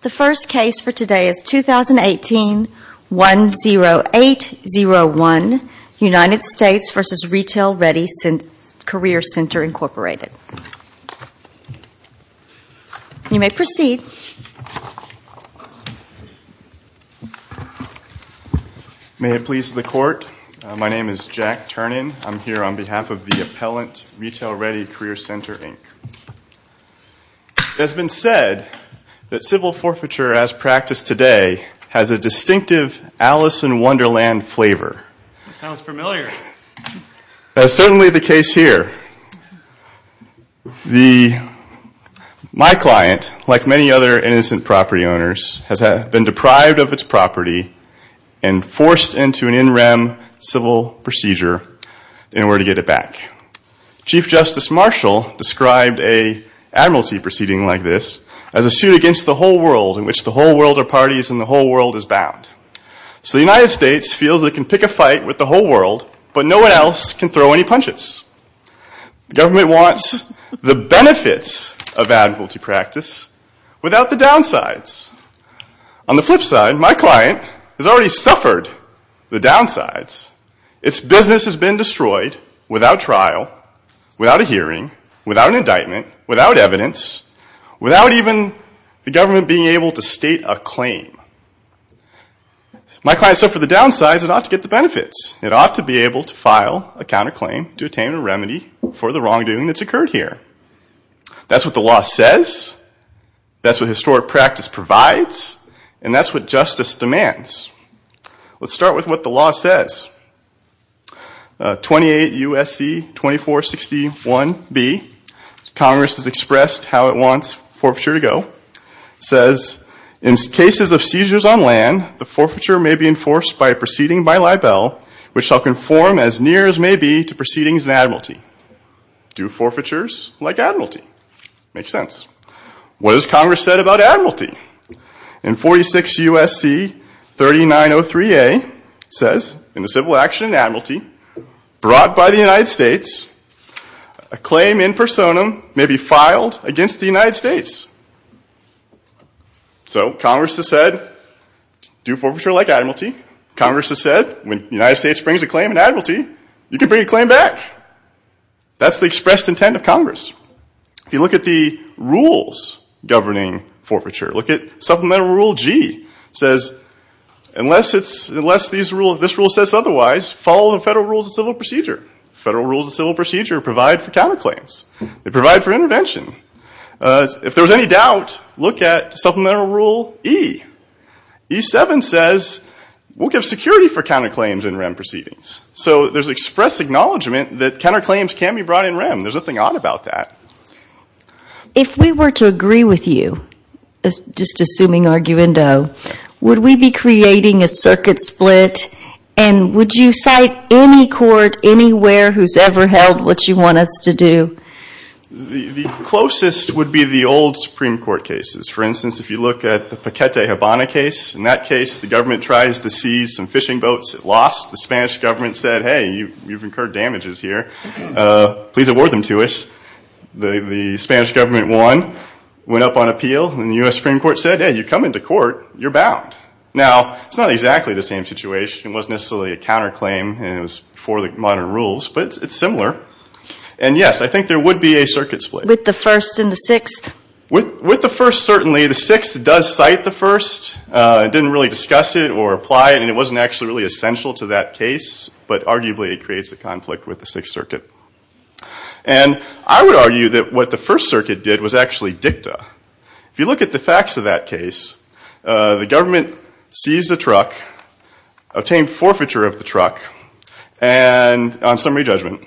The first case for today is 2018-10801, United States v. Retail-Ready Career Center Incorporated. You may proceed. May it please the Court, my name is Jack Turnin. I'm here on behalf of the Appellant Retail-Ready Career Center, Inc. It has been said that civil forfeiture as practiced today has a distinctive Alice in Wonderland flavor. Sounds familiar. That is certainly the case here. My client, like many other innocent property owners, has been deprived of its property and forced into an in-rem civil procedure in order to get it back. Chief Justice Marshall described an admiralty proceeding like this as a suit against the whole world in which the whole world are parties and the whole world is bound. So the United States feels it can pick a fight with the whole world, but no one else can throw any punches. The government wants the benefits of admiralty practice without the downsides. On the flip side, my client has already suffered the downsides. Its business has been destroyed without trial, without a hearing, without an indictment, without evidence, without even the government being able to state a claim. My client suffered the downsides and ought to get the benefits. It ought to be able to file a counterclaim to attain a remedy for the wrongdoing that's occurred here. That's what the law says, that's what historic practice provides, and that's what justice demands. Let's start with what the law says. 28 U.S.C. 2461b, Congress has expressed how it wants forfeiture to go. It says, in cases of seizures on land, the forfeiture may be enforced by a proceeding by libel which shall conform as near as may be to proceedings in admiralty. Do forfeitures like admiralty? Makes sense. What has Congress said about admiralty? And 46 U.S.C. 3903a says, in the civil action in admiralty brought by the United States, a claim in personam may be filed against the United States. So Congress has said, do forfeiture like admiralty. Congress has said, when the United States brings a claim in admiralty, you can bring a claim back. That's the expressed intent of Congress. If you look at the rules governing forfeiture, look at Supplemental Rule G. It says, unless this rule says otherwise, follow the Federal Rules of Civil Procedure. Federal Rules of Civil Procedure provide for counterclaims. They provide for intervention. If there's any doubt, look at Supplemental Rule E. E7 says, we'll give security for counterclaims in REM proceedings. So there's expressed acknowledgment that counterclaims can be brought in REM. There's nothing odd about that. If we were to agree with you, just assuming arguendo, would we be creating a circuit split? And would you cite any court anywhere who's ever held what you want us to do? The closest would be the old Supreme Court cases. For instance, if you look at the Paquete Habana case, in that case, the government tries to seize some fishing boats. It lost. The Spanish government said, hey, you've incurred damages here. Please award them to us. The Spanish government won, went up on appeal, and the U.S. Supreme Court said, hey, you come into court, you're bound. Now, it's not exactly the same situation. It wasn't necessarily a counterclaim, and it was before the modern rules, but it's similar. And, yes, I think there would be a circuit split. With the First and the Sixth? With the First, certainly. The Sixth does cite the First. It didn't really discuss it or apply it, and it wasn't actually really essential to that case. But, arguably, it creates a conflict with the Sixth Circuit. And I would argue that what the First Circuit did was actually dicta. If you look at the facts of that case, the government seized a truck, obtained forfeiture of the truck, and on summary judgment,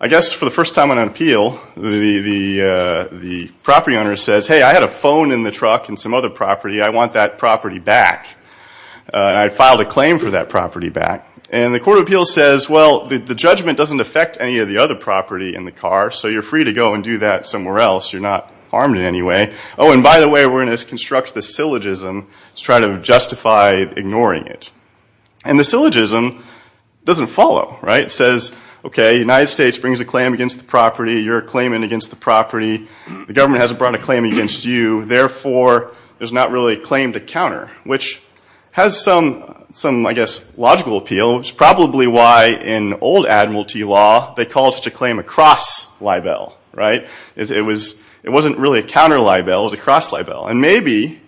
I guess for the first time on appeal, the property owner says, hey, I had a phone in the truck in some other property. I want that property back. I filed a claim for that property back. And the court of appeals says, well, the judgment doesn't affect any of the other property in the car, so you're free to go and do that somewhere else. You're not harmed in any way. Oh, and by the way, we're going to construct the syllogism to try to justify ignoring it. And the syllogism doesn't follow, right? It says, okay, the United States brings a claim against the property. You're claiming against the property. The government hasn't brought a claim against you. Therefore, there's not really a claim to counter, which has some, I guess, logical appeal. It's probably why in old admiralty law they called such a claim a cross libel, right? It wasn't really a counter libel. It was a cross libel. And maybe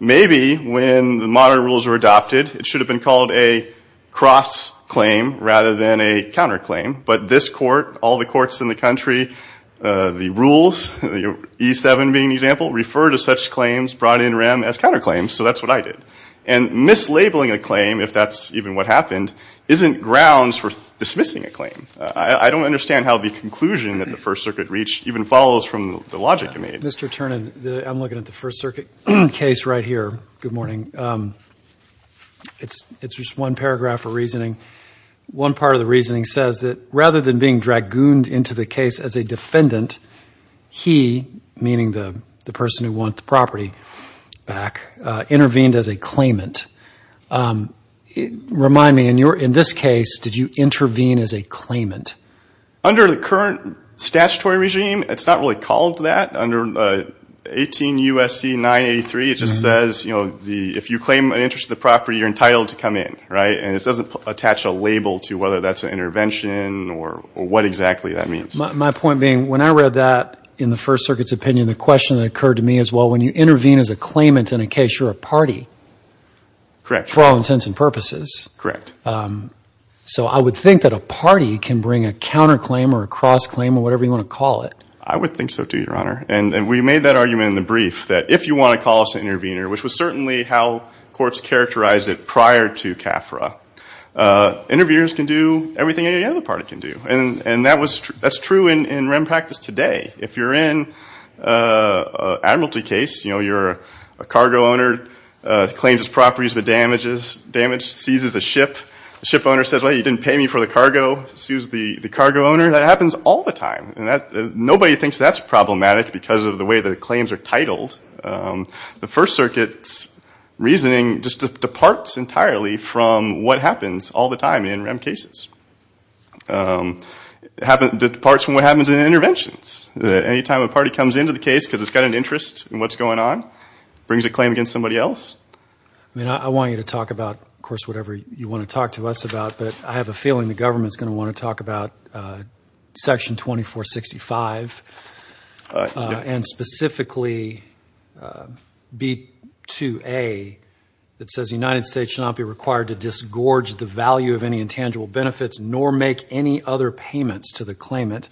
when the modern rules were adopted, it should have been called a cross claim rather than a counter claim. But this court, all the courts in the country, the rules, E7 being an example, refer to such claims brought in rem as counter claims, so that's what I did. And mislabeling a claim, if that's even what happened, isn't grounds for dismissing a claim. I don't understand how the conclusion that the First Circuit reached even follows from the logic you made. Mr. Ternan, I'm looking at the First Circuit case right here. Good morning. It's just one paragraph of reasoning. One part of the reasoning says that rather than being dragooned into the case as a defendant, he, meaning the person who wants the property back, intervened as a claimant. Remind me, in this case, did you intervene as a claimant? Under the current statutory regime, it's not really called that. Under 18 U.S.C. 983, it just says, you know, if you claim an interest in the property, you're entitled to come in, right? And it doesn't attach a label to whether that's an intervention or what exactly that means. My point being, when I read that in the First Circuit's opinion, the question that occurred to me is, well, when you intervene as a claimant in a case, you're a party. Correct. For all intents and purposes. Correct. So I would think that a party can bring a counter claim or a cross claim or whatever you want to call it. I would think so, too, Your Honor. And we made that argument in the brief, that if you want to call us an intervener, which was certainly how courts characterized it prior to CAFRA, interveners can do everything any other party can do. And that's true in REM practice today. If you're in an admiralty case, you know, you're a cargo owner, claims his properties with damages, damages, seizes a ship, the ship owner says, well, you didn't pay me for the cargo, sues the cargo owner, that happens all the time. The First Circuit's reasoning just departs entirely from what happens all the time in REM cases. It departs from what happens in interventions. Any time a party comes into the case because it's got an interest in what's going on, brings a claim against somebody else. I mean, I want you to talk about, of course, whatever you want to talk to us about, but I have a feeling the government's going to want to talk about Section 2465, and specifically B2A that says the United States should not be required to disgorge the value of any intangible benefits nor make any other payments to the claimant.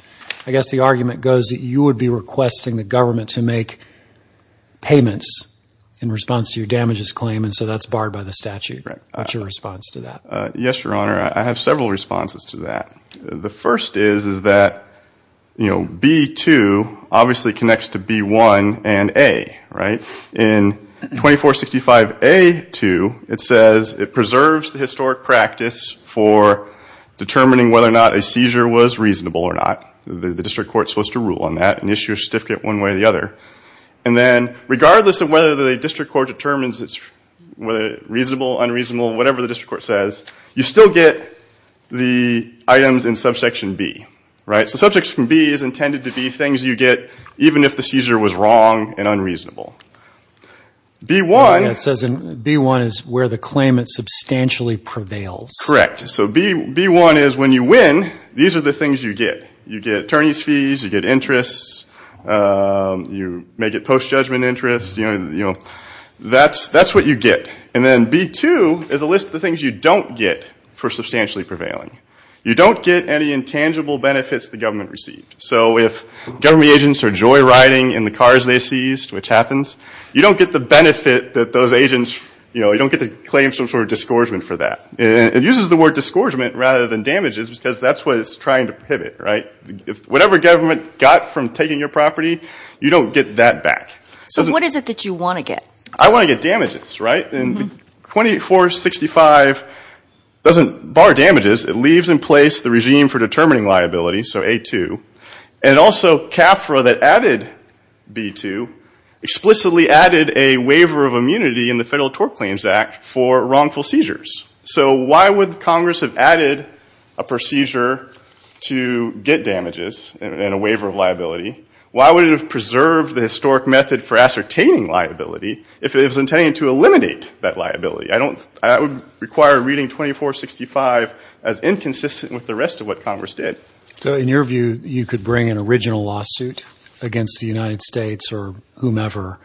I guess the argument goes that you would be requesting the government to make payments in response to your damages claim, and so that's barred by the statute. What's your response to that? Yes, Your Honor, I have several responses to that. The first is that B2 obviously connects to B1 and A. In 2465A2, it says it preserves the historic practice for determining whether or not a seizure was reasonable or not. The district court's supposed to rule on that and issue a certificate one way or the other. And then regardless of whether the district court determines it's reasonable, unreasonable, whatever the district court says, you still get the items in Subsection B. So Subsection B is intended to be things you get even if the seizure was wrong and unreasonable. It says B1 is where the claimant substantially prevails. Correct. So B1 is when you win, these are the things you get. You get attorney's fees, you get interests, you may get post-judgment interests, that's what you get. And then B2 is a list of the things you don't get for substantially prevailing. You don't get any intangible benefits the government received. So if government agents are joyriding in the cars they seized, which happens, you don't get the benefit that those agents, you don't get to claim some sort of disgorgement for that. It uses the word disgorgement rather than damages because that's what it's trying to prohibit, right? Whatever government got from taking your property, you don't get that back. So what is it that you want to get? I want to get damages, right? And 2465 doesn't bar damages, it leaves in place the regime for determining liability, so A2. And also CAFRA that added B2 explicitly added a waiver of immunity in the Federal Tort Claims Act for wrongful seizures. So why would Congress have added a procedure to get damages and a waiver of liability? Why would it have preserved the historic method for ascertaining liability if it was intended to eliminate that liability? That would require reading 2465 as inconsistent with the rest of what Congress did. So in your view, you could bring an original lawsuit against the United States or whomever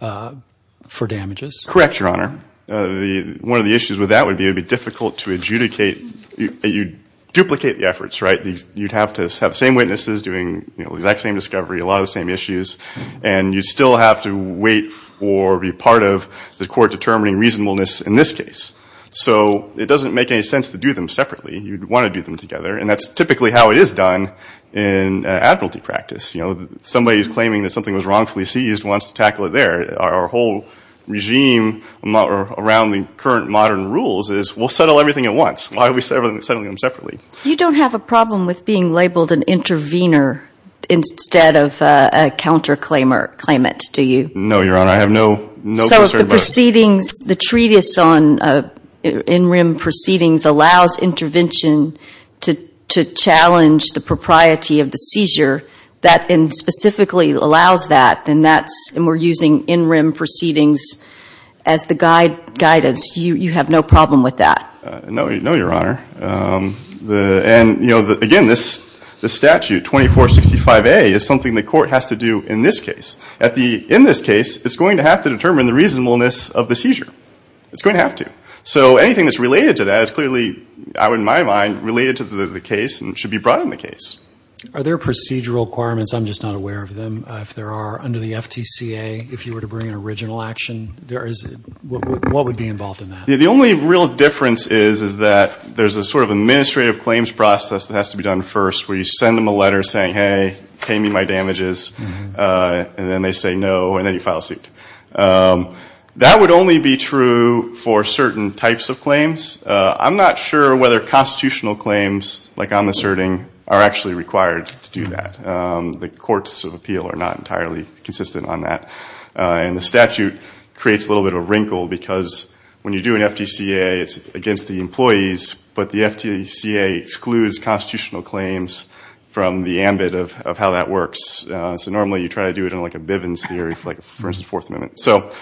for damages? Correct, Your Honor. One of the issues with that would be it would be difficult to adjudicate. You'd duplicate the efforts, right? You'd have to have the same witnesses doing the exact same discovery, a lot of the same issues, and you'd still have to wait or be part of the court determining reasonableness in this case. So it doesn't make any sense to do them separately. You'd want to do them together, and that's typically how it is done in admiralty practice. Somebody who's claiming that something was wrongfully seized wants to tackle it there. Our whole regime around the current modern rules is we'll settle everything at once. Why are we settling them separately? You don't have a problem with being labeled an intervener instead of a counterclaimer, claimant, do you? No, Your Honor. I have no concern about it. So if the proceedings, the treatise on in-rim proceedings allows intervention to challenge the propriety of the seizure, and specifically allows that, and we're using in-rim proceedings as the guidance, you have no problem with that? No, Your Honor. And, you know, again, this statute, 2465A, is something the court has to do in this case. In this case, it's going to have to determine the reasonableness of the seizure. It's going to have to. So anything that's related to that is clearly, in my mind, related to the case and should be brought in the case. Are there procedural requirements? I'm just not aware of them. If there are, under the FTCA, if you were to bring an original action, what would be involved in that? The only real difference is that there's a sort of administrative claims process that has to be done first, where you send them a letter saying, hey, pay me my damages, and then they say no, and then you file a suit. That would only be true for certain types of claims. I'm not sure whether constitutional claims, like I'm asserting, are actually required to do that. The courts of appeal are not entirely consistent on that. And the statute creates a little bit of a wrinkle because when you do an FTCA, it's against the employees, but the FTCA excludes constitutional claims from the ambit of how that works. So normally you try to do it in like a Bivens theory, like the First and Fourth Amendment. So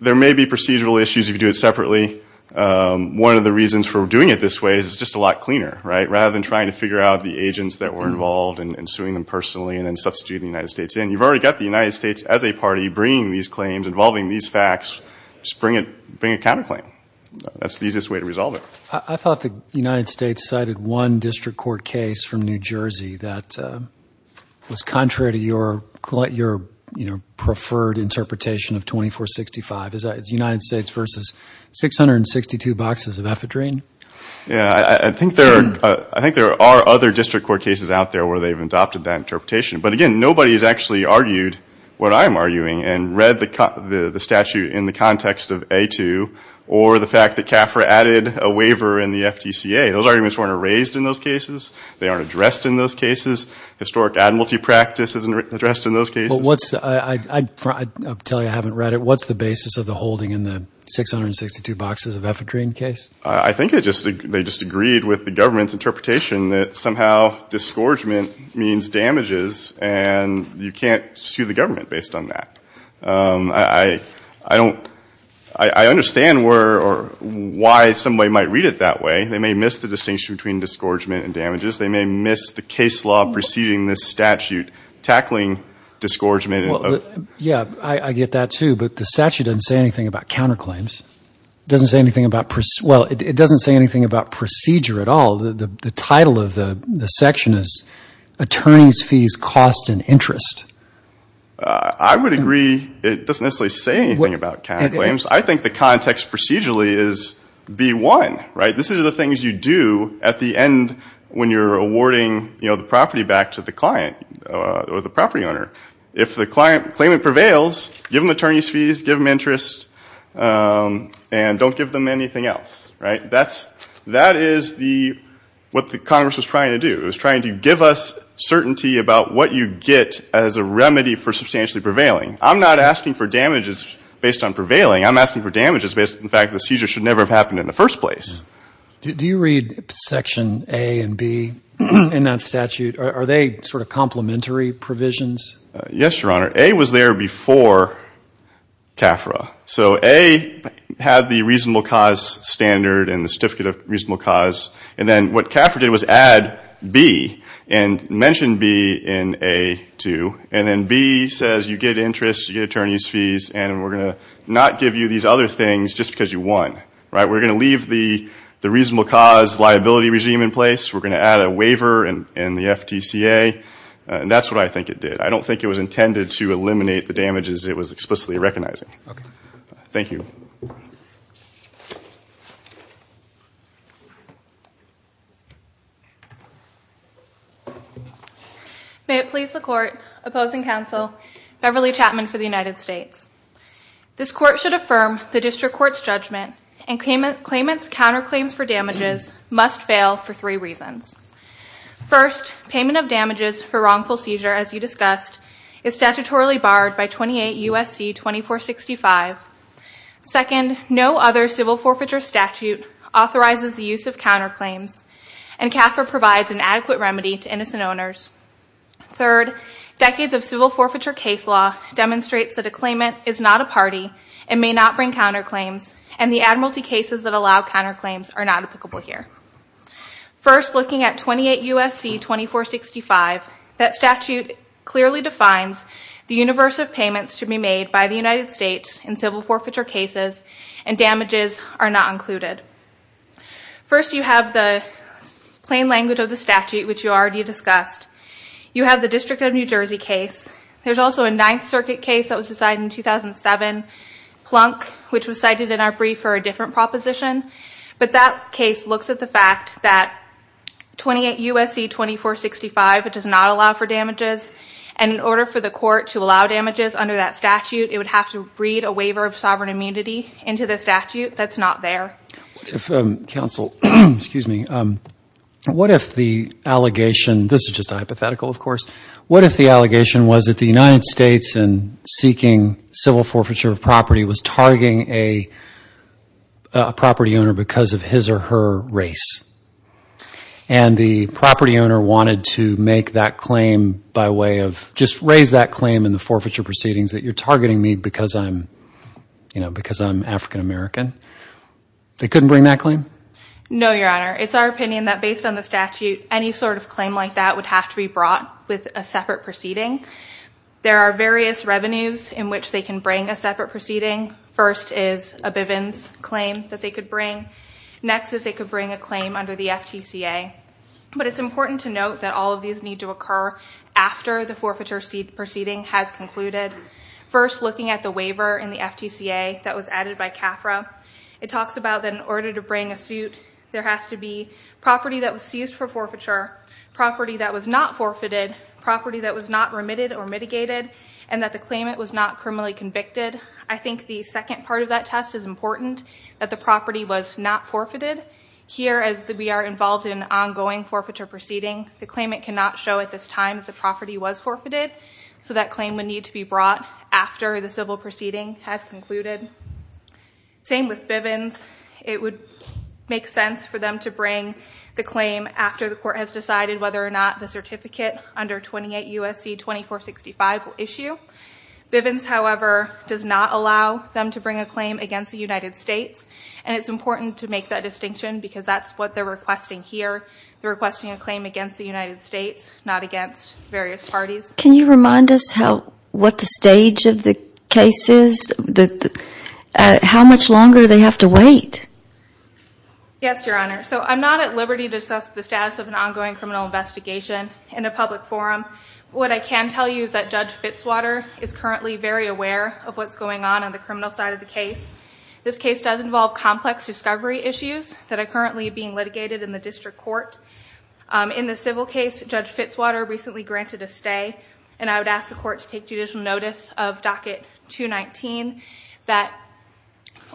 there may be procedural issues if you do it separately. One of the reasons for doing it this way is it's just a lot cleaner, right, rather than trying to figure out the agents that were involved and suing them personally and then substituting the United States in. You've already got the United States as a party bringing these claims, involving these facts. Just bring a counterclaim. That's the easiest way to resolve it. I thought the United States cited one district court case from New Jersey that was contrary to your preferred interpretation of 2465. Is that United States versus 662 boxes of ephedrine? I think there are other district court cases out there where they've adopted that interpretation. But, again, nobody has actually argued what I'm arguing and read the statute in the context of A2 or the fact that CAFRA added a waiver in the FTCA. Those arguments weren't raised in those cases. They aren't addressed in those cases. Historic admiralty practice isn't addressed in those cases. I'll tell you I haven't read it. What's the basis of the holding in the 662 boxes of ephedrine case? I think they just agreed with the government's interpretation that somehow disgorgement means damages, and you can't sue the government based on that. I understand why somebody might read it that way. They may miss the distinction between disgorgement and damages. They may miss the case law preceding this statute tackling disgorgement. Yeah, I get that, too. But the statute doesn't say anything about counterclaims. It doesn't say anything about procedure at all. The title of the section is attorneys' fees, costs, and interest. I would agree it doesn't necessarily say anything about counterclaims. I think the context procedurally is B1. These are the things you do at the end when you're awarding the property back to the client or the property owner. If the claimant prevails, give them attorneys' fees, give them interest, and don't give them anything else. That is what Congress was trying to do. It was trying to give us certainty about what you get as a remedy for substantially prevailing. I'm not asking for damages based on prevailing. I'm asking for damages based on the fact that the seizure should never have happened in the first place. Do you read Section A and B in that statute? Are they sort of complementary provisions? Yes, Your Honor. A was there before CAFRA. So A had the reasonable cause standard and the certificate of reasonable cause, and then what CAFRA did was add B and mention B in A2, and then B says you get interest, you get attorneys' fees, and we're going to not give you these other things just because you won. We're going to leave the reasonable cause liability regime in place. We're going to add a waiver in the FTCA, and that's what I think it did. I don't think it was intended to eliminate the damages it was explicitly recognizing. Thank you. May it please the Court, opposing counsel, Beverly Chapman for the United States. This Court should affirm the district court's judgment and claimant's counterclaims for damages must fail for three reasons. First, payment of damages for wrongful seizure, as you discussed, is statutorily barred by 28 U.S.C. 2465. Second, no other civil forfeiture statute authorizes the use of counterclaims and CAFRA provides an adequate remedy to innocent owners. Third, decades of civil forfeiture case law demonstrates that a claimant is not a party and may not bring counterclaims, and the admiralty cases that allow counterclaims are not applicable here. First, looking at 28 U.S.C. 2465, that statute clearly defines the universe of payments to be made by the United States in civil forfeiture cases, and damages are not included. First, you have the plain language of the statute, which you already discussed. You have the District of New Jersey case. There's also a Ninth Circuit case that was decided in 2007, Plunk, which was cited in our brief for a different proposition, but that case looks at the fact that 28 U.S.C. 2465 does not allow for damages, and in order for the Court to allow damages under that statute, it would have to read a waiver of sovereign immunity into the statute. That's not there. What if the allegation, this is just a hypothetical, of course, what if the allegation was that the United States in seeking civil forfeiture of property was targeting a property owner because of his or her race, and the property owner wanted to make that claim by way of, just raise that claim in the forfeiture proceedings that you're targeting me because I'm African-American? They couldn't bring that claim? No, Your Honor. It's our opinion that based on the statute, any sort of claim like that would have to be brought with a separate proceeding. There are various revenues in which they can bring a separate proceeding. First is a Bivens claim that they could bring. Next is they could bring a claim under the FTCA. But it's important to note that all of these need to occur after the forfeiture proceeding has concluded. First, looking at the waiver in the FTCA that was added by CAFRA, it talks about that in order to bring a suit, there has to be property that was seized for forfeiture, property that was not forfeited, property that was not remitted or mitigated, and that the claimant was not criminally convicted. I think the second part of that test is important, that the property was not forfeited. Here, as we are involved in an ongoing forfeiture proceeding, the claimant cannot show at this time that the property was forfeited, so that claim would need to be brought after the civil proceeding has concluded. Same with Bivens. It would make sense for them to bring the claim after the court has decided whether or not the certificate under 28 U.S.C. 2465 will issue. Bivens, however, does not allow them to bring a claim against the United States, and it's important to make that distinction, because that's what they're requesting here. They're requesting a claim against the United States, not against various parties. Can you remind us what the stage of the case is? How much longer do they have to wait? Yes, Your Honor. I'm not at liberty to assess the status of an ongoing criminal investigation in a public forum. What I can tell you is that Judge Fitzwater is currently very aware of what's going on on the criminal side of the case. This case does involve complex discovery issues that are currently being litigated in the district court. In the civil case, Judge Fitzwater recently granted a stay, and I would ask the court to take judicial notice of Docket 219.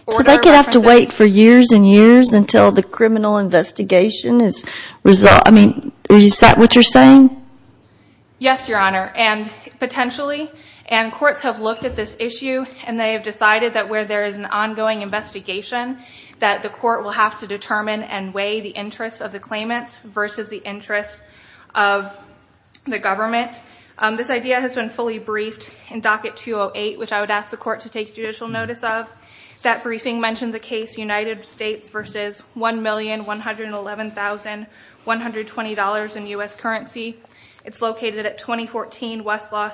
Do they have to wait for years and years until the criminal investigation is resolved? Is that what you're saying? Yes, Your Honor, and potentially. And courts have looked at this issue, and they have decided that where there is an ongoing investigation, that the court will have to determine and weigh the interest of the claimants versus the interest of the government. This idea has been fully briefed in Docket 208, which I would ask the court to take judicial notice of. That briefing mentions a case, United States v. $1,111,120 in U.S. currency. It's located at 2014 Westlaw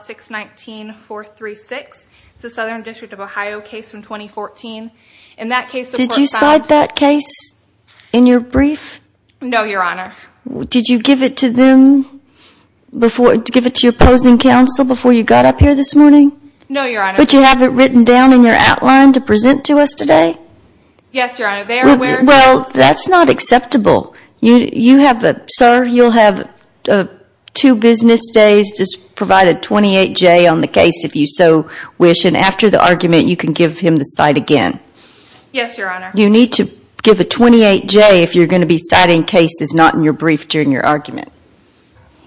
619-436. It's a Southern District of Ohio case from 2014. Did you cite that case in your brief? No, Your Honor. Did you give it to your opposing counsel before you got up here this morning? No, Your Honor. But you have it written down in your outline to present to us today? Yes, Your Honor. Well, that's not acceptable. Sir, you'll have two business days. Just provide a 28-J on the case if you so wish, and after the argument you can give him the cite again. Yes, Your Honor. You need to give a 28-J if you're going to be citing cases not in your brief during your argument.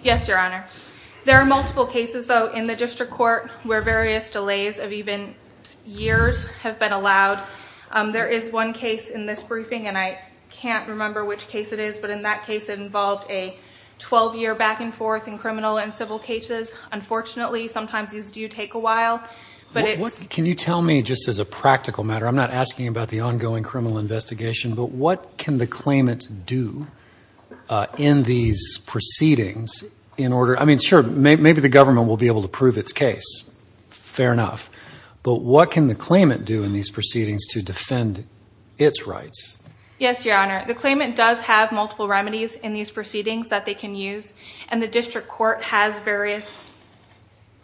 Yes, Your Honor. There are multiple cases, though, in the district court where various delays of even years have been allowed. There is one case in this briefing, and I can't remember which case it is, but in that case it involved a 12-year back-and-forth in criminal and civil cases. Unfortunately, sometimes these do take a while. Can you tell me, just as a practical matter, I'm not asking about the ongoing criminal investigation, but what can the claimant do in these proceedings? I mean, sure, maybe the government will be able to prove its case. Fair enough. But what can the claimant do in these proceedings to defend its rights? Yes, Your Honor. The claimant does have multiple remedies in these proceedings that they can use, and the district court has various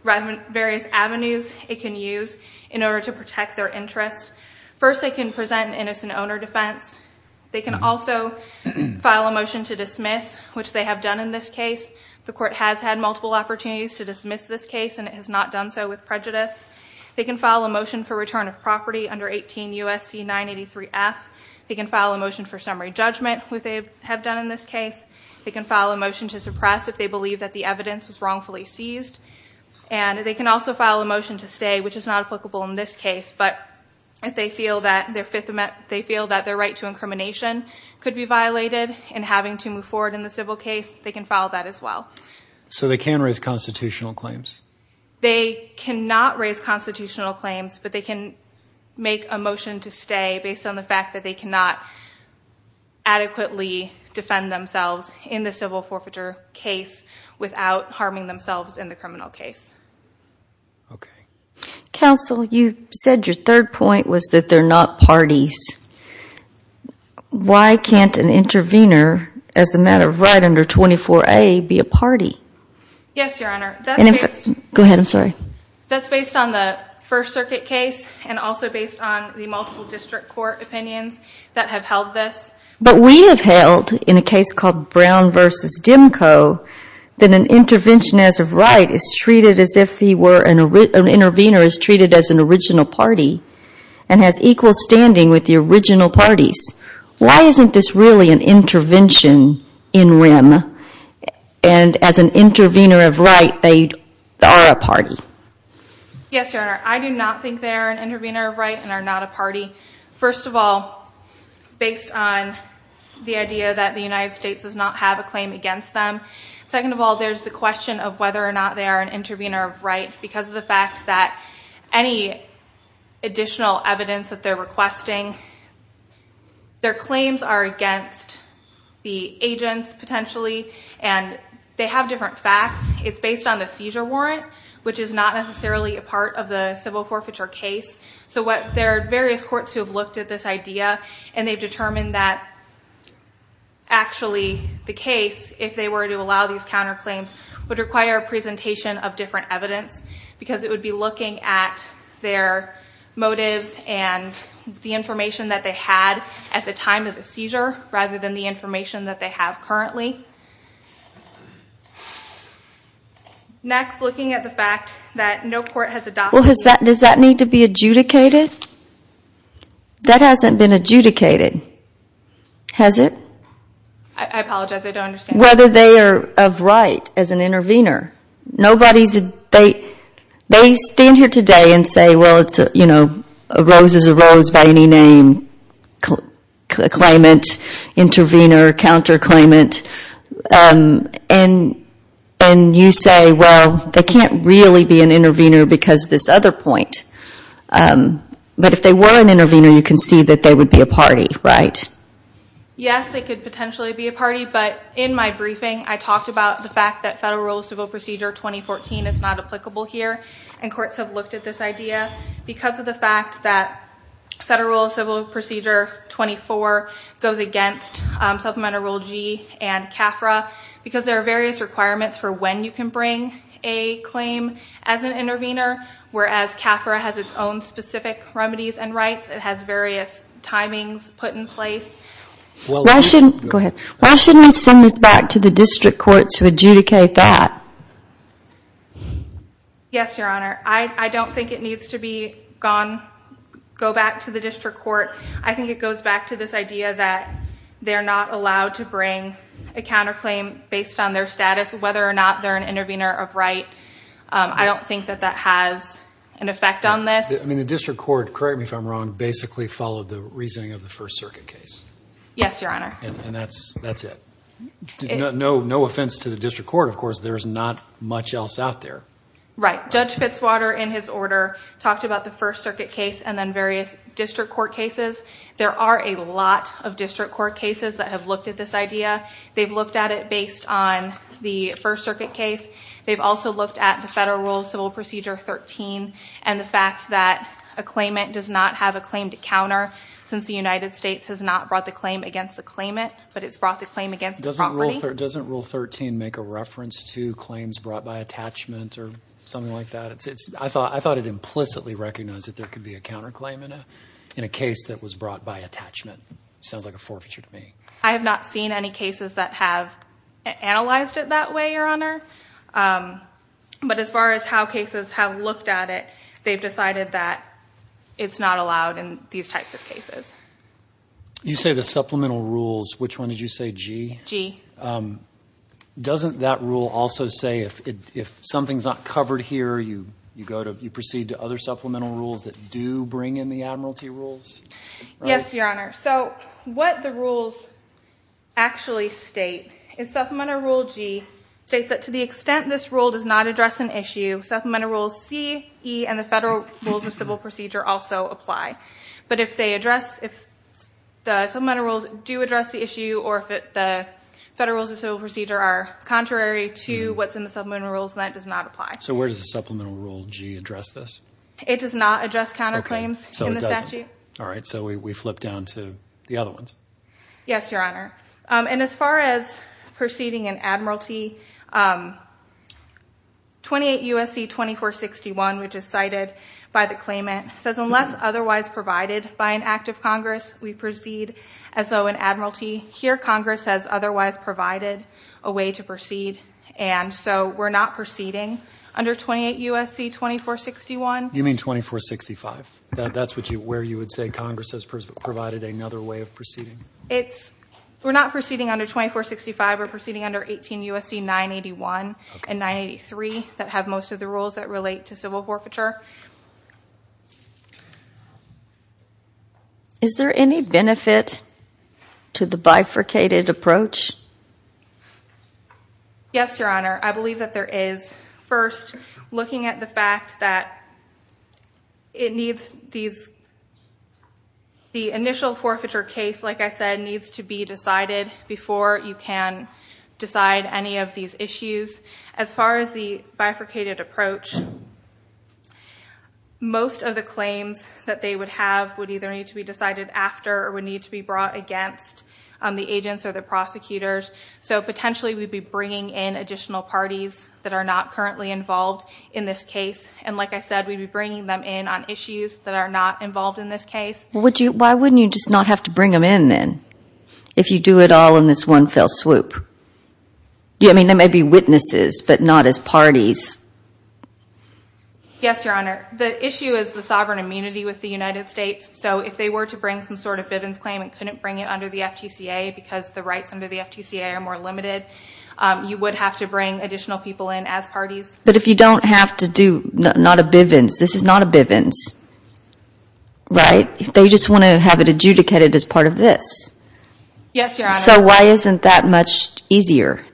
avenues it can use in order to protect their interests. First, they can present an innocent owner defense. They can also file a motion to dismiss, which they have done in this case. The court has had multiple opportunities to dismiss this case, and it has not done so with prejudice. They can file a motion for return of property under 18 U.S.C. 983-F. They can file a motion for summary judgment, which they have done in this case. They can file a motion to suppress if they believe that the evidence was wrongfully seized. And they can also file a motion to stay, which is not applicable in this case, but if they feel that their right to incrimination could be violated in having to move forward in the civil case, they can file that as well. So they can raise constitutional claims? They cannot raise constitutional claims, but they can make a motion to stay based on the fact that they cannot adequately defend themselves in the civil forfeiture case without harming themselves in the criminal case. Okay. Counsel, you said your third point was that they're not parties. Why can't an intervener, as a matter of right under 24A, be a party? Yes, Your Honor. Go ahead. I'm sorry. That's based on the First Circuit case and also based on the multiple district court opinions that have held this. But we have held, in a case called Brown v. Dimco, that an intervention as of right is treated as if an intervener is treated as an original party and has equal standing with the original parties. Why isn't this really an intervention in rem and, as an intervener of right, they are a party? Yes, Your Honor. I do not think they are an intervener of right and are not a party. First of all, based on the idea that the United States does not have a claim against them. Second of all, there's the question of whether or not they are an intervener of right because of the fact that any additional evidence that they're requesting, their claims are against the agents, potentially. And they have different facts. It's based on the seizure warrant, which is not necessarily a part of the civil forfeiture case. So there are various courts who have looked at this idea and they've determined that, actually, the case, if they were to allow these counterclaims, would require a presentation of different evidence because it would be looking at their motives and the information that they had at the time of the seizure rather than the information that they have currently. Next, looking at the fact that no court has adopted... Well, does that need to be adjudicated? That hasn't been adjudicated, has it? I apologize, I don't understand. Whether they are of right as an intervener. They stand here today and say, well, a rose is a rose by any name, claimant, intervener, counterclaimant. And you say, well, they can't really be an intervener because of this other point. But if they were an intervener, you can see that they would be a party, right? Yes, they could potentially be a party. But in my briefing, I talked about the fact that Federal Rule of Civil Procedure 2014 is not applicable here. And courts have looked at this idea because of the fact that Federal Rule of Civil Procedure 24 goes against Supplemental Rule G and CAFRA because there are various requirements for when you can bring a claim as an intervener, whereas CAFRA has its own specific remedies and rights. It has various timings put in place. Go ahead. Why shouldn't we send this back to the district court to adjudicate that? Yes, Your Honor. I don't think it needs to go back to the district court. I think it goes back to this idea that they're not allowed to bring a counterclaim based on their status, whether or not they're an intervener of right. I don't think that that has an effect on this. The district court, correct me if I'm wrong, basically followed the reasoning of the First Circuit case. Yes, Your Honor. And that's it. No offense to the district court. Of course, there's not much else out there. Right. Judge Fitzwater, in his order, talked about the First Circuit case and then various district court cases. There are a lot of district court cases that have looked at this idea. They've looked at it based on the First Circuit case. They've also looked at the Federal Rule of Civil Procedure 13 and the fact that a claimant does not have a claim to counter since the United States has not brought the claim against the claimant, but it's brought the claim against the property. Doesn't Rule 13 make a reference to claims brought by attachment or something like that? I thought it implicitly recognized that there could be a counterclaim in a case that was brought by attachment. Sounds like a forfeiture to me. I have not seen any cases that have analyzed it that way, Your Honor. But as far as how cases have looked at it, they've decided that it's not allowed in these types of cases. You say the supplemental rules. Which one did you say, G? G. Doesn't that rule also say if something's not covered here, you proceed to other supplemental rules that do bring in the admiralty rules? Yes, Your Honor. So what the rules actually state is Supplemental Rule G states that to the extent this rule does not address an issue, Supplemental Rules C, E, and the Federal Rules of Civil Procedure also apply. But if the Supplemental Rules do address the issue or if the Federal Rules of Civil Procedure are contrary to what's in the Supplemental Rules, that does not apply. So where does the Supplemental Rule G address this? It does not address counterclaims in the statute. All right, so we flip down to the other ones. Yes, Your Honor. And as far as proceeding an admiralty, 28 U.S.C. 2461, which is cited by the claimant, says unless otherwise provided by an act of Congress, we proceed as though an admiralty. Here, Congress has otherwise provided a way to proceed, and so we're not proceeding under 28 U.S.C. 2461. You mean 2465? That's where you would say Congress has provided another way of proceeding? We're not proceeding under 2465. We're proceeding under 18 U.S.C. 981 and 983 that have most of the rules that relate to civil forfeiture. Is there any benefit to the bifurcated approach? Yes, Your Honor. I believe that there is. First, looking at the fact that it needs these, the initial forfeiture case, like I said, needs to be decided before you can decide any of these issues. As far as the bifurcated approach, most of the claims that they would have would either need to be decided after or would need to be brought against the agents or the prosecutors. So potentially we'd be bringing in additional parties that are not currently involved in this case, and like I said, we'd be bringing them in on issues that are not involved in this case. Why wouldn't you just not have to bring them in, then, if you do it all in this one fell swoop? I mean, they may be witnesses, but not as parties. Yes, Your Honor. The issue is the sovereign immunity with the United States, so if they were to bring some sort of Bivens claim and couldn't bring it under the FTCA because the rights under the FTCA are more limited, you would have to bring additional people in as parties. But if you don't have to do, not a Bivens, this is not a Bivens, right? They just want to have it adjudicated as part of this. Yes, Your Honor. So why isn't that much easier?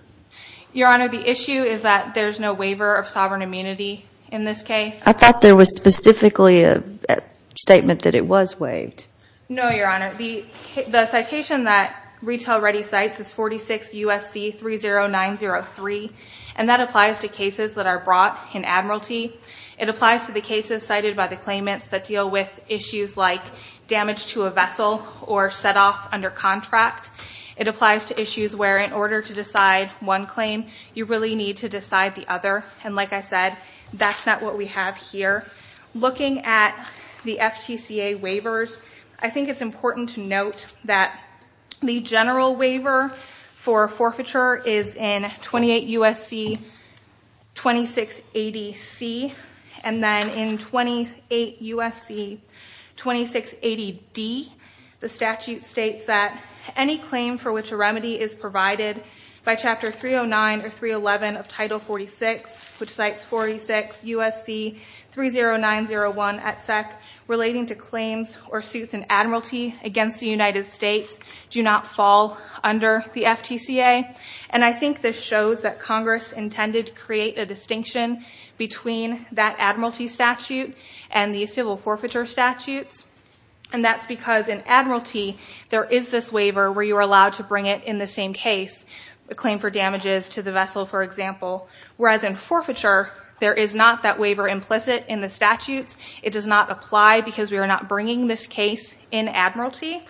Your Honor, the issue is that there's no waiver of sovereign immunity in this case. I thought there was specifically a statement that it was waived. No, Your Honor. The citation that Retail Ready cites is 46 U.S.C. 30903, and that applies to cases that are brought in Admiralty. It applies to the cases cited by the claimants that deal with issues like damage to a vessel or set off under contract. It applies to issues where in order to decide one claim, you really need to decide the other, and like I said, that's not what we have here. Looking at the FTCA waivers, I think it's important to note that the general waiver for forfeiture is in 28 U.S.C. 2680C, and then in 28 U.S.C. 2680D, the statute states that any claim for which a remedy is provided by Chapter 309 or 311 of Title 46, which cites 46 U.S.C. 30901, etc., relating to claims or suits in Admiralty against the United States do not fall under the FTCA, and I think this shows that Congress intended to create a distinction between that Admiralty statute and the civil forfeiture statutes, and that's because in Admiralty, there is this waiver where you are allowed to bring it in the same case, a claim for damages to the vessel, for example, whereas in forfeiture, there is not that waiver implicit in the statutes. It does not apply because we are not bringing this case in Admiralty,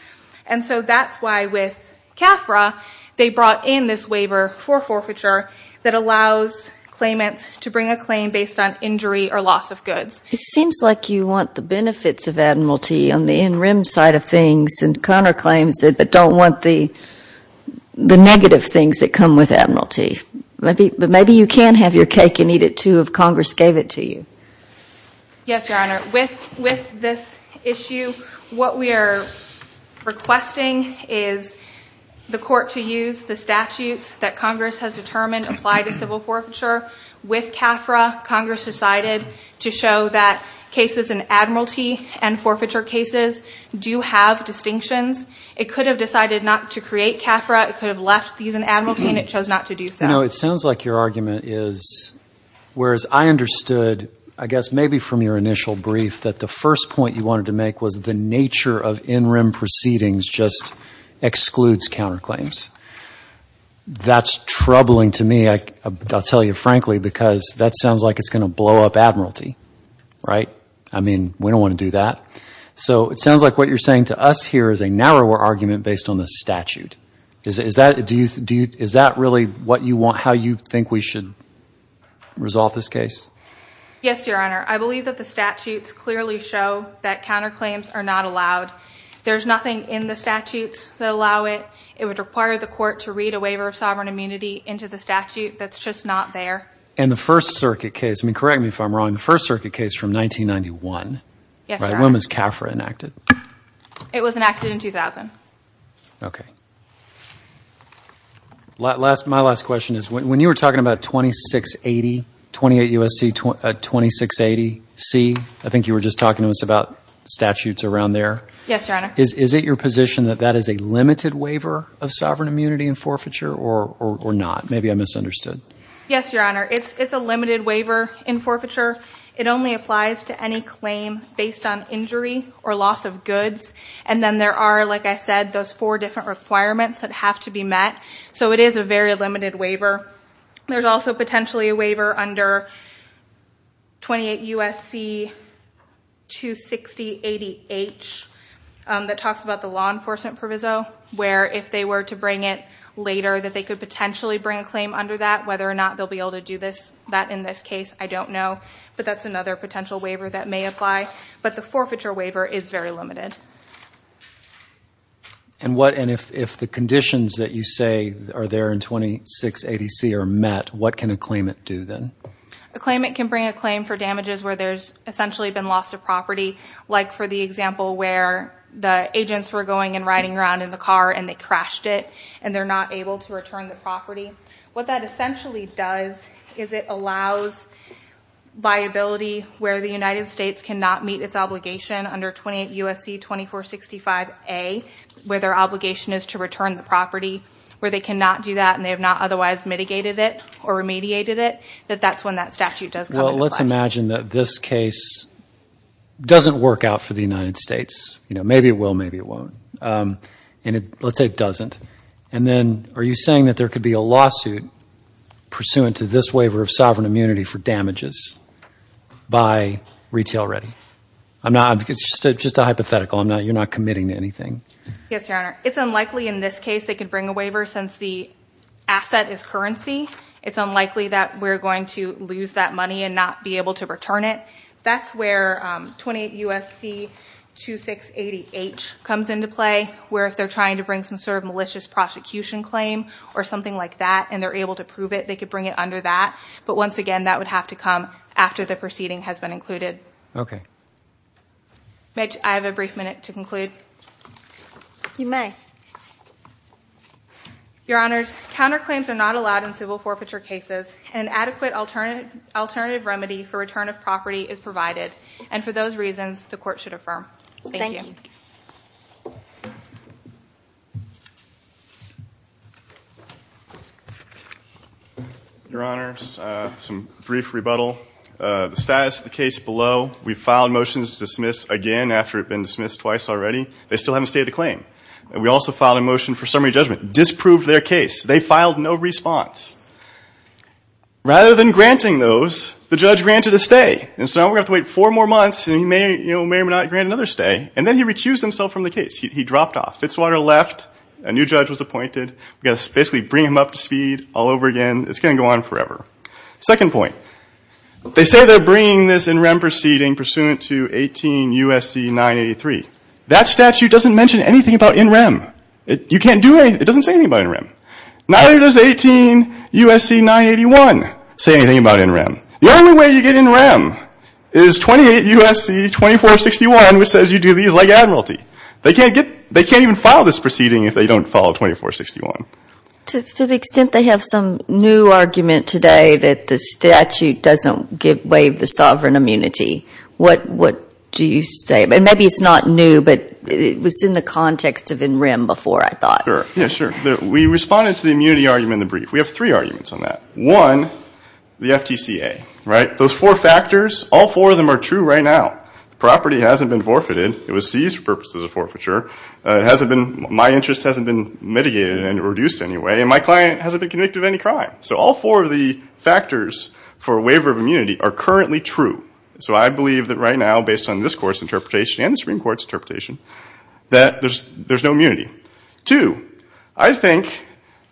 and so that's why with CAFRA, they brought in this waiver for forfeiture that allows claimants to bring a claim based on injury or loss of goods. It seems like you want the benefits of Admiralty on the in-rim side of things, and Conner claims it, but don't want the negative things that come with Admiralty. But maybe you can have your cake and eat it too if Congress gave it to you. Yes, Your Honor. With this issue, what we are requesting is the court to use the statutes that Congress has determined apply to civil forfeiture. With CAFRA, Congress decided to show that cases in Admiralty and forfeiture cases do have distinctions. It could have decided not to create CAFRA. It could have left these in Admiralty, and it chose not to do so. It sounds like your argument is, whereas I understood, I guess maybe from your initial brief, that the first point you wanted to make was the nature of in-rim proceedings just excludes counterclaims. That's troubling to me, I'll tell you frankly, because that sounds like it's going to blow up Admiralty. Right? I mean, we don't want to do that. So it sounds like what you're saying to us here is a narrower argument based on the statute. Is that really how you think we should resolve this case? Yes, Your Honor. I believe that the statutes clearly show that counterclaims are not allowed. There's nothing in the statutes that allow it. It would require the court to read a waiver of sovereign immunity into the statute that's just not there. And the First Circuit case, I mean, correct me if I'm wrong, the First Circuit case from 1991. Yes, Your Honor. When was CAFRA enacted? It was enacted in 2000. Okay. My last question is, when you were talking about 2680, 28 U.S.C., 2680 C, I think you were just talking to us about statutes around there. Yes, Your Honor. Is it your position that that is a limited waiver of sovereign immunity in forfeiture or not? Maybe I misunderstood. Yes, Your Honor. It's a limited waiver in forfeiture. It only applies to any claim based on injury or loss of goods. And then there are, like I said, those four different requirements that have to be met. So it is a very limited waiver. There's also potentially a waiver under 28 U.S.C. 26080H that talks about the law enforcement proviso, where if they were to bring it later, that they could potentially bring a claim under that. Whether or not they'll be able to do that in this case, I don't know. But that's another potential waiver that may apply. But the forfeiture waiver is very limited. And if the conditions that you say are there in 26 ADC are met, what can a claimant do then? A claimant can bring a claim for damages where there's essentially been loss of property, like for the example where the agents were going and riding around in the car and they crashed it and they're not able to return the property. What that essentially does is it allows viability where the United States cannot meet its obligation under 28 U.S.C. 2465A, where their obligation is to return the property, where they cannot do that and they have not otherwise mitigated it or remediated it, that that's when that statute does come into play. Well, let's imagine that this case doesn't work out for the United States. Maybe it will, maybe it won't. And let's say it doesn't. And then are you saying that there could be a lawsuit pursuant to this waiver of sovereign immunity for damages by Retail Ready? It's just a hypothetical. You're not committing to anything. Yes, Your Honor. It's unlikely in this case they could bring a waiver since the asset is currency. It's unlikely that we're going to lose that money and not be able to return it. That's where 28 U.S.C. 2680H comes into play, where if they're trying to bring some sort of malicious prosecution claim or something like that and they're able to prove it, they could bring it under that. But once again, that would have to come after the proceeding has been included. Okay. Mitch, I have a brief minute to conclude. You may. Your Honors, counterclaims are not allowed in civil forfeiture cases, and an adequate alternative remedy for return of property is provided. And for those reasons, the Court should affirm. Thank you. Thank you. Your Honors, some brief rebuttal. The status of the case below, we filed motions to dismiss again after it had been dismissed twice already. They still haven't stated the claim. And we also filed a motion for summary judgment. Disproved their case. They filed no response. Rather than granting those, the judge granted a stay. And so now we're going to have to wait four more months and he may or may not grant another stay. And then he recused himself from the case. He dropped off. Fitzwater left. A new judge was appointed. We've got to basically bring him up to speed all over again. It's going to go on forever. Second point. They say they're bringing this NREM proceeding pursuant to 18 U.S.C. 983. That statute doesn't mention anything about NREM. You can't do anything. It doesn't say anything about NREM. Neither does 18 U.S.C. 981 say anything about NREM. The only way you get NREM is 28 U.S.C. 2461, which says you do these like admiralty. They can't even file this proceeding if they don't follow 2461. To the extent they have some new argument today that the statute doesn't waive the sovereign immunity, what do you say? Maybe it's not new, but it was in the context of NREM before, I thought. Yeah, sure. We responded to the immunity argument in the brief. We have three arguments on that. One, the FTCA, right? Those four factors, all four of them are true right now. The property hasn't been forfeited. It was seized for purposes of forfeiture. It hasn't been, my interest hasn't been mitigated and reduced in any way, and my client hasn't been convicted of any crime. So all four of the factors for waiver of immunity are currently true. So I believe that right now, based on this Court's interpretation and the Supreme Court's interpretation, that there's no immunity. Two, I think,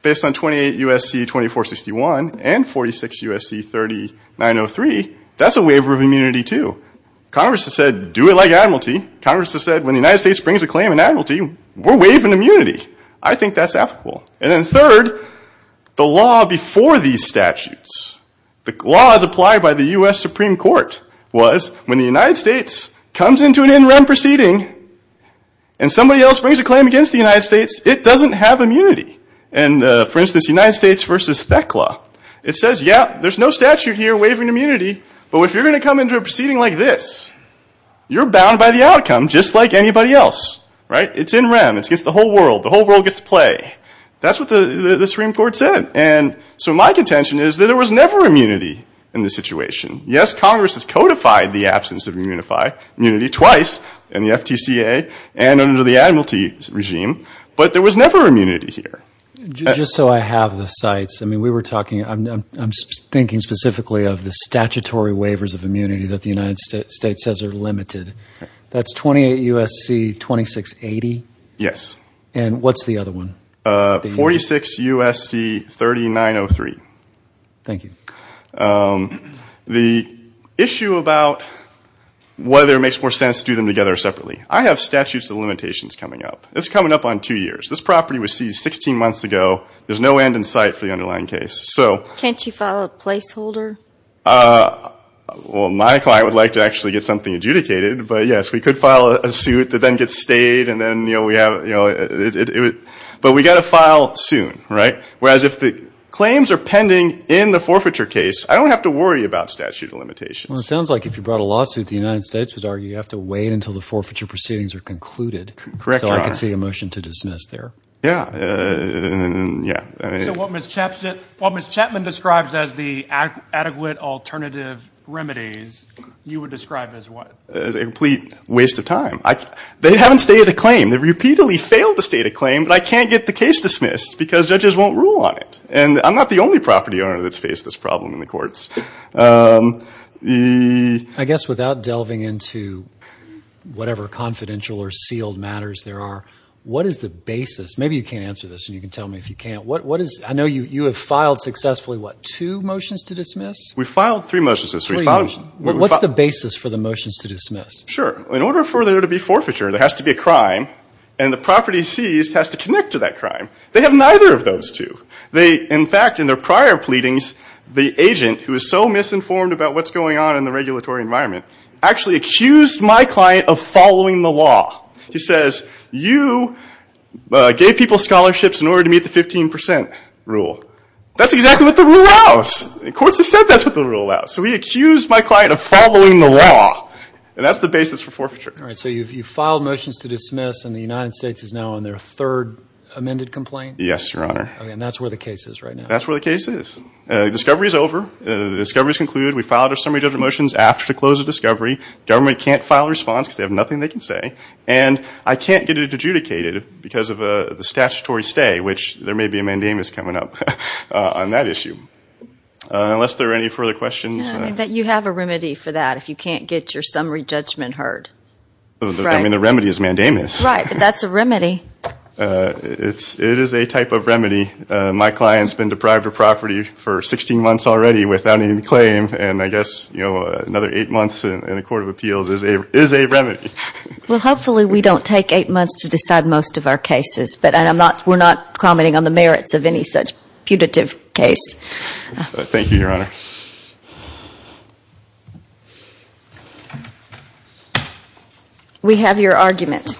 based on 28 U.S.C. 2461 and 46 U.S.C. 3903, that's a waiver of immunity, too. Congress has said, do it like admiralty. Congress has said, when the United States brings a claim in admiralty, we're waiving immunity. I think that's applicable. And then third, the law before these statutes, the laws applied by the U.S. Supreme Court, was when the United States comes into an in-rem proceeding and somebody else brings a claim against the United States, it doesn't have immunity. And for instance, United States v. FECLA, it says, yeah, there's no statute here waiving immunity, but if you're going to come into a proceeding like this, you're bound by the outcome just like anybody else, right? It's in-rem. It's against the whole world. The whole world gets to play. That's what the Supreme Court said. And so my contention is that there was never immunity in this situation. Yes, Congress has codified the absence of immunity twice in the FTCA and under the admiralty regime, but there was never immunity here. Just so I have the sites, I mean, we were talking, I'm thinking specifically of the statutory waivers of immunity that the United States says are limited. That's 28 U.S.C. 2680? Yes. And what's the other one? 46 U.S.C. 3903. Thank you. The issue about whether it makes more sense to do them together or separately, I have statutes of limitations coming up. It's coming up on two years. This property was seized 16 months ago. There's no end in sight for the underlying case. Can't you file a placeholder? Well, my client would like to actually get something adjudicated, but yes, we could file a suit that then gets stayed, but we've got to file soon, right? Whereas if the claims are pending in the forfeiture case, I don't have to worry about statute of limitations. Well, it sounds like if you brought a lawsuit, the United States would argue you have to wait until the forfeiture proceedings are concluded. Correct. So I can see a motion to dismiss there. Yeah. So what Ms. Chapman describes as the adequate alternative remedies, you would describe as what? As a complete waste of time. They haven't stated a claim. They've repeatedly failed to state a claim, but I can't get the case dismissed because judges won't rule on it. And I'm not the only property owner that's faced this problem in the courts. I guess without delving into whatever confidential or sealed matters there are, what is the basis? Maybe you can't answer this and you can tell me if you can. I know you have filed successfully, what, two motions to dismiss? We filed three motions. What's the basis for the motions to dismiss? Sure. In order for there to be forfeiture, there has to be a crime, and the property seized has to connect to that crime. They have neither of those two. In fact, in their prior pleadings, the agent, who is so misinformed about what's going on in the regulatory environment, actually accused my client of following the law. He says, you gave people scholarships in order to meet the 15 percent rule. That's exactly what the rule allows. The courts have said that's what the rule allows. So he accused my client of following the law. And that's the basis for forfeiture. All right. So you filed motions to dismiss, and the United States is now on their third amended complaint? Yes, Your Honor. Okay. And that's where the case is right now? That's where the case is. The discovery is over. The discovery is concluded. We filed our summary judgment motions after the close of discovery. The government can't file a response because they have nothing they can say. And I can't get it adjudicated because of the statutory stay, which there may be a mandamus coming up on that issue. Unless there are any further questions. You have a remedy for that if you can't get your summary judgment heard. I mean, the remedy is mandamus. Right. But that's a remedy. It is a type of remedy. My client's been deprived of property for 16 months already without any claim. And I guess, you know, another eight months in a court of appeals is a remedy. Well, hopefully we don't take eight months to decide most of our cases. We're not commenting on the merits of any such putative case. Thank you, Your Honor. We have your argument.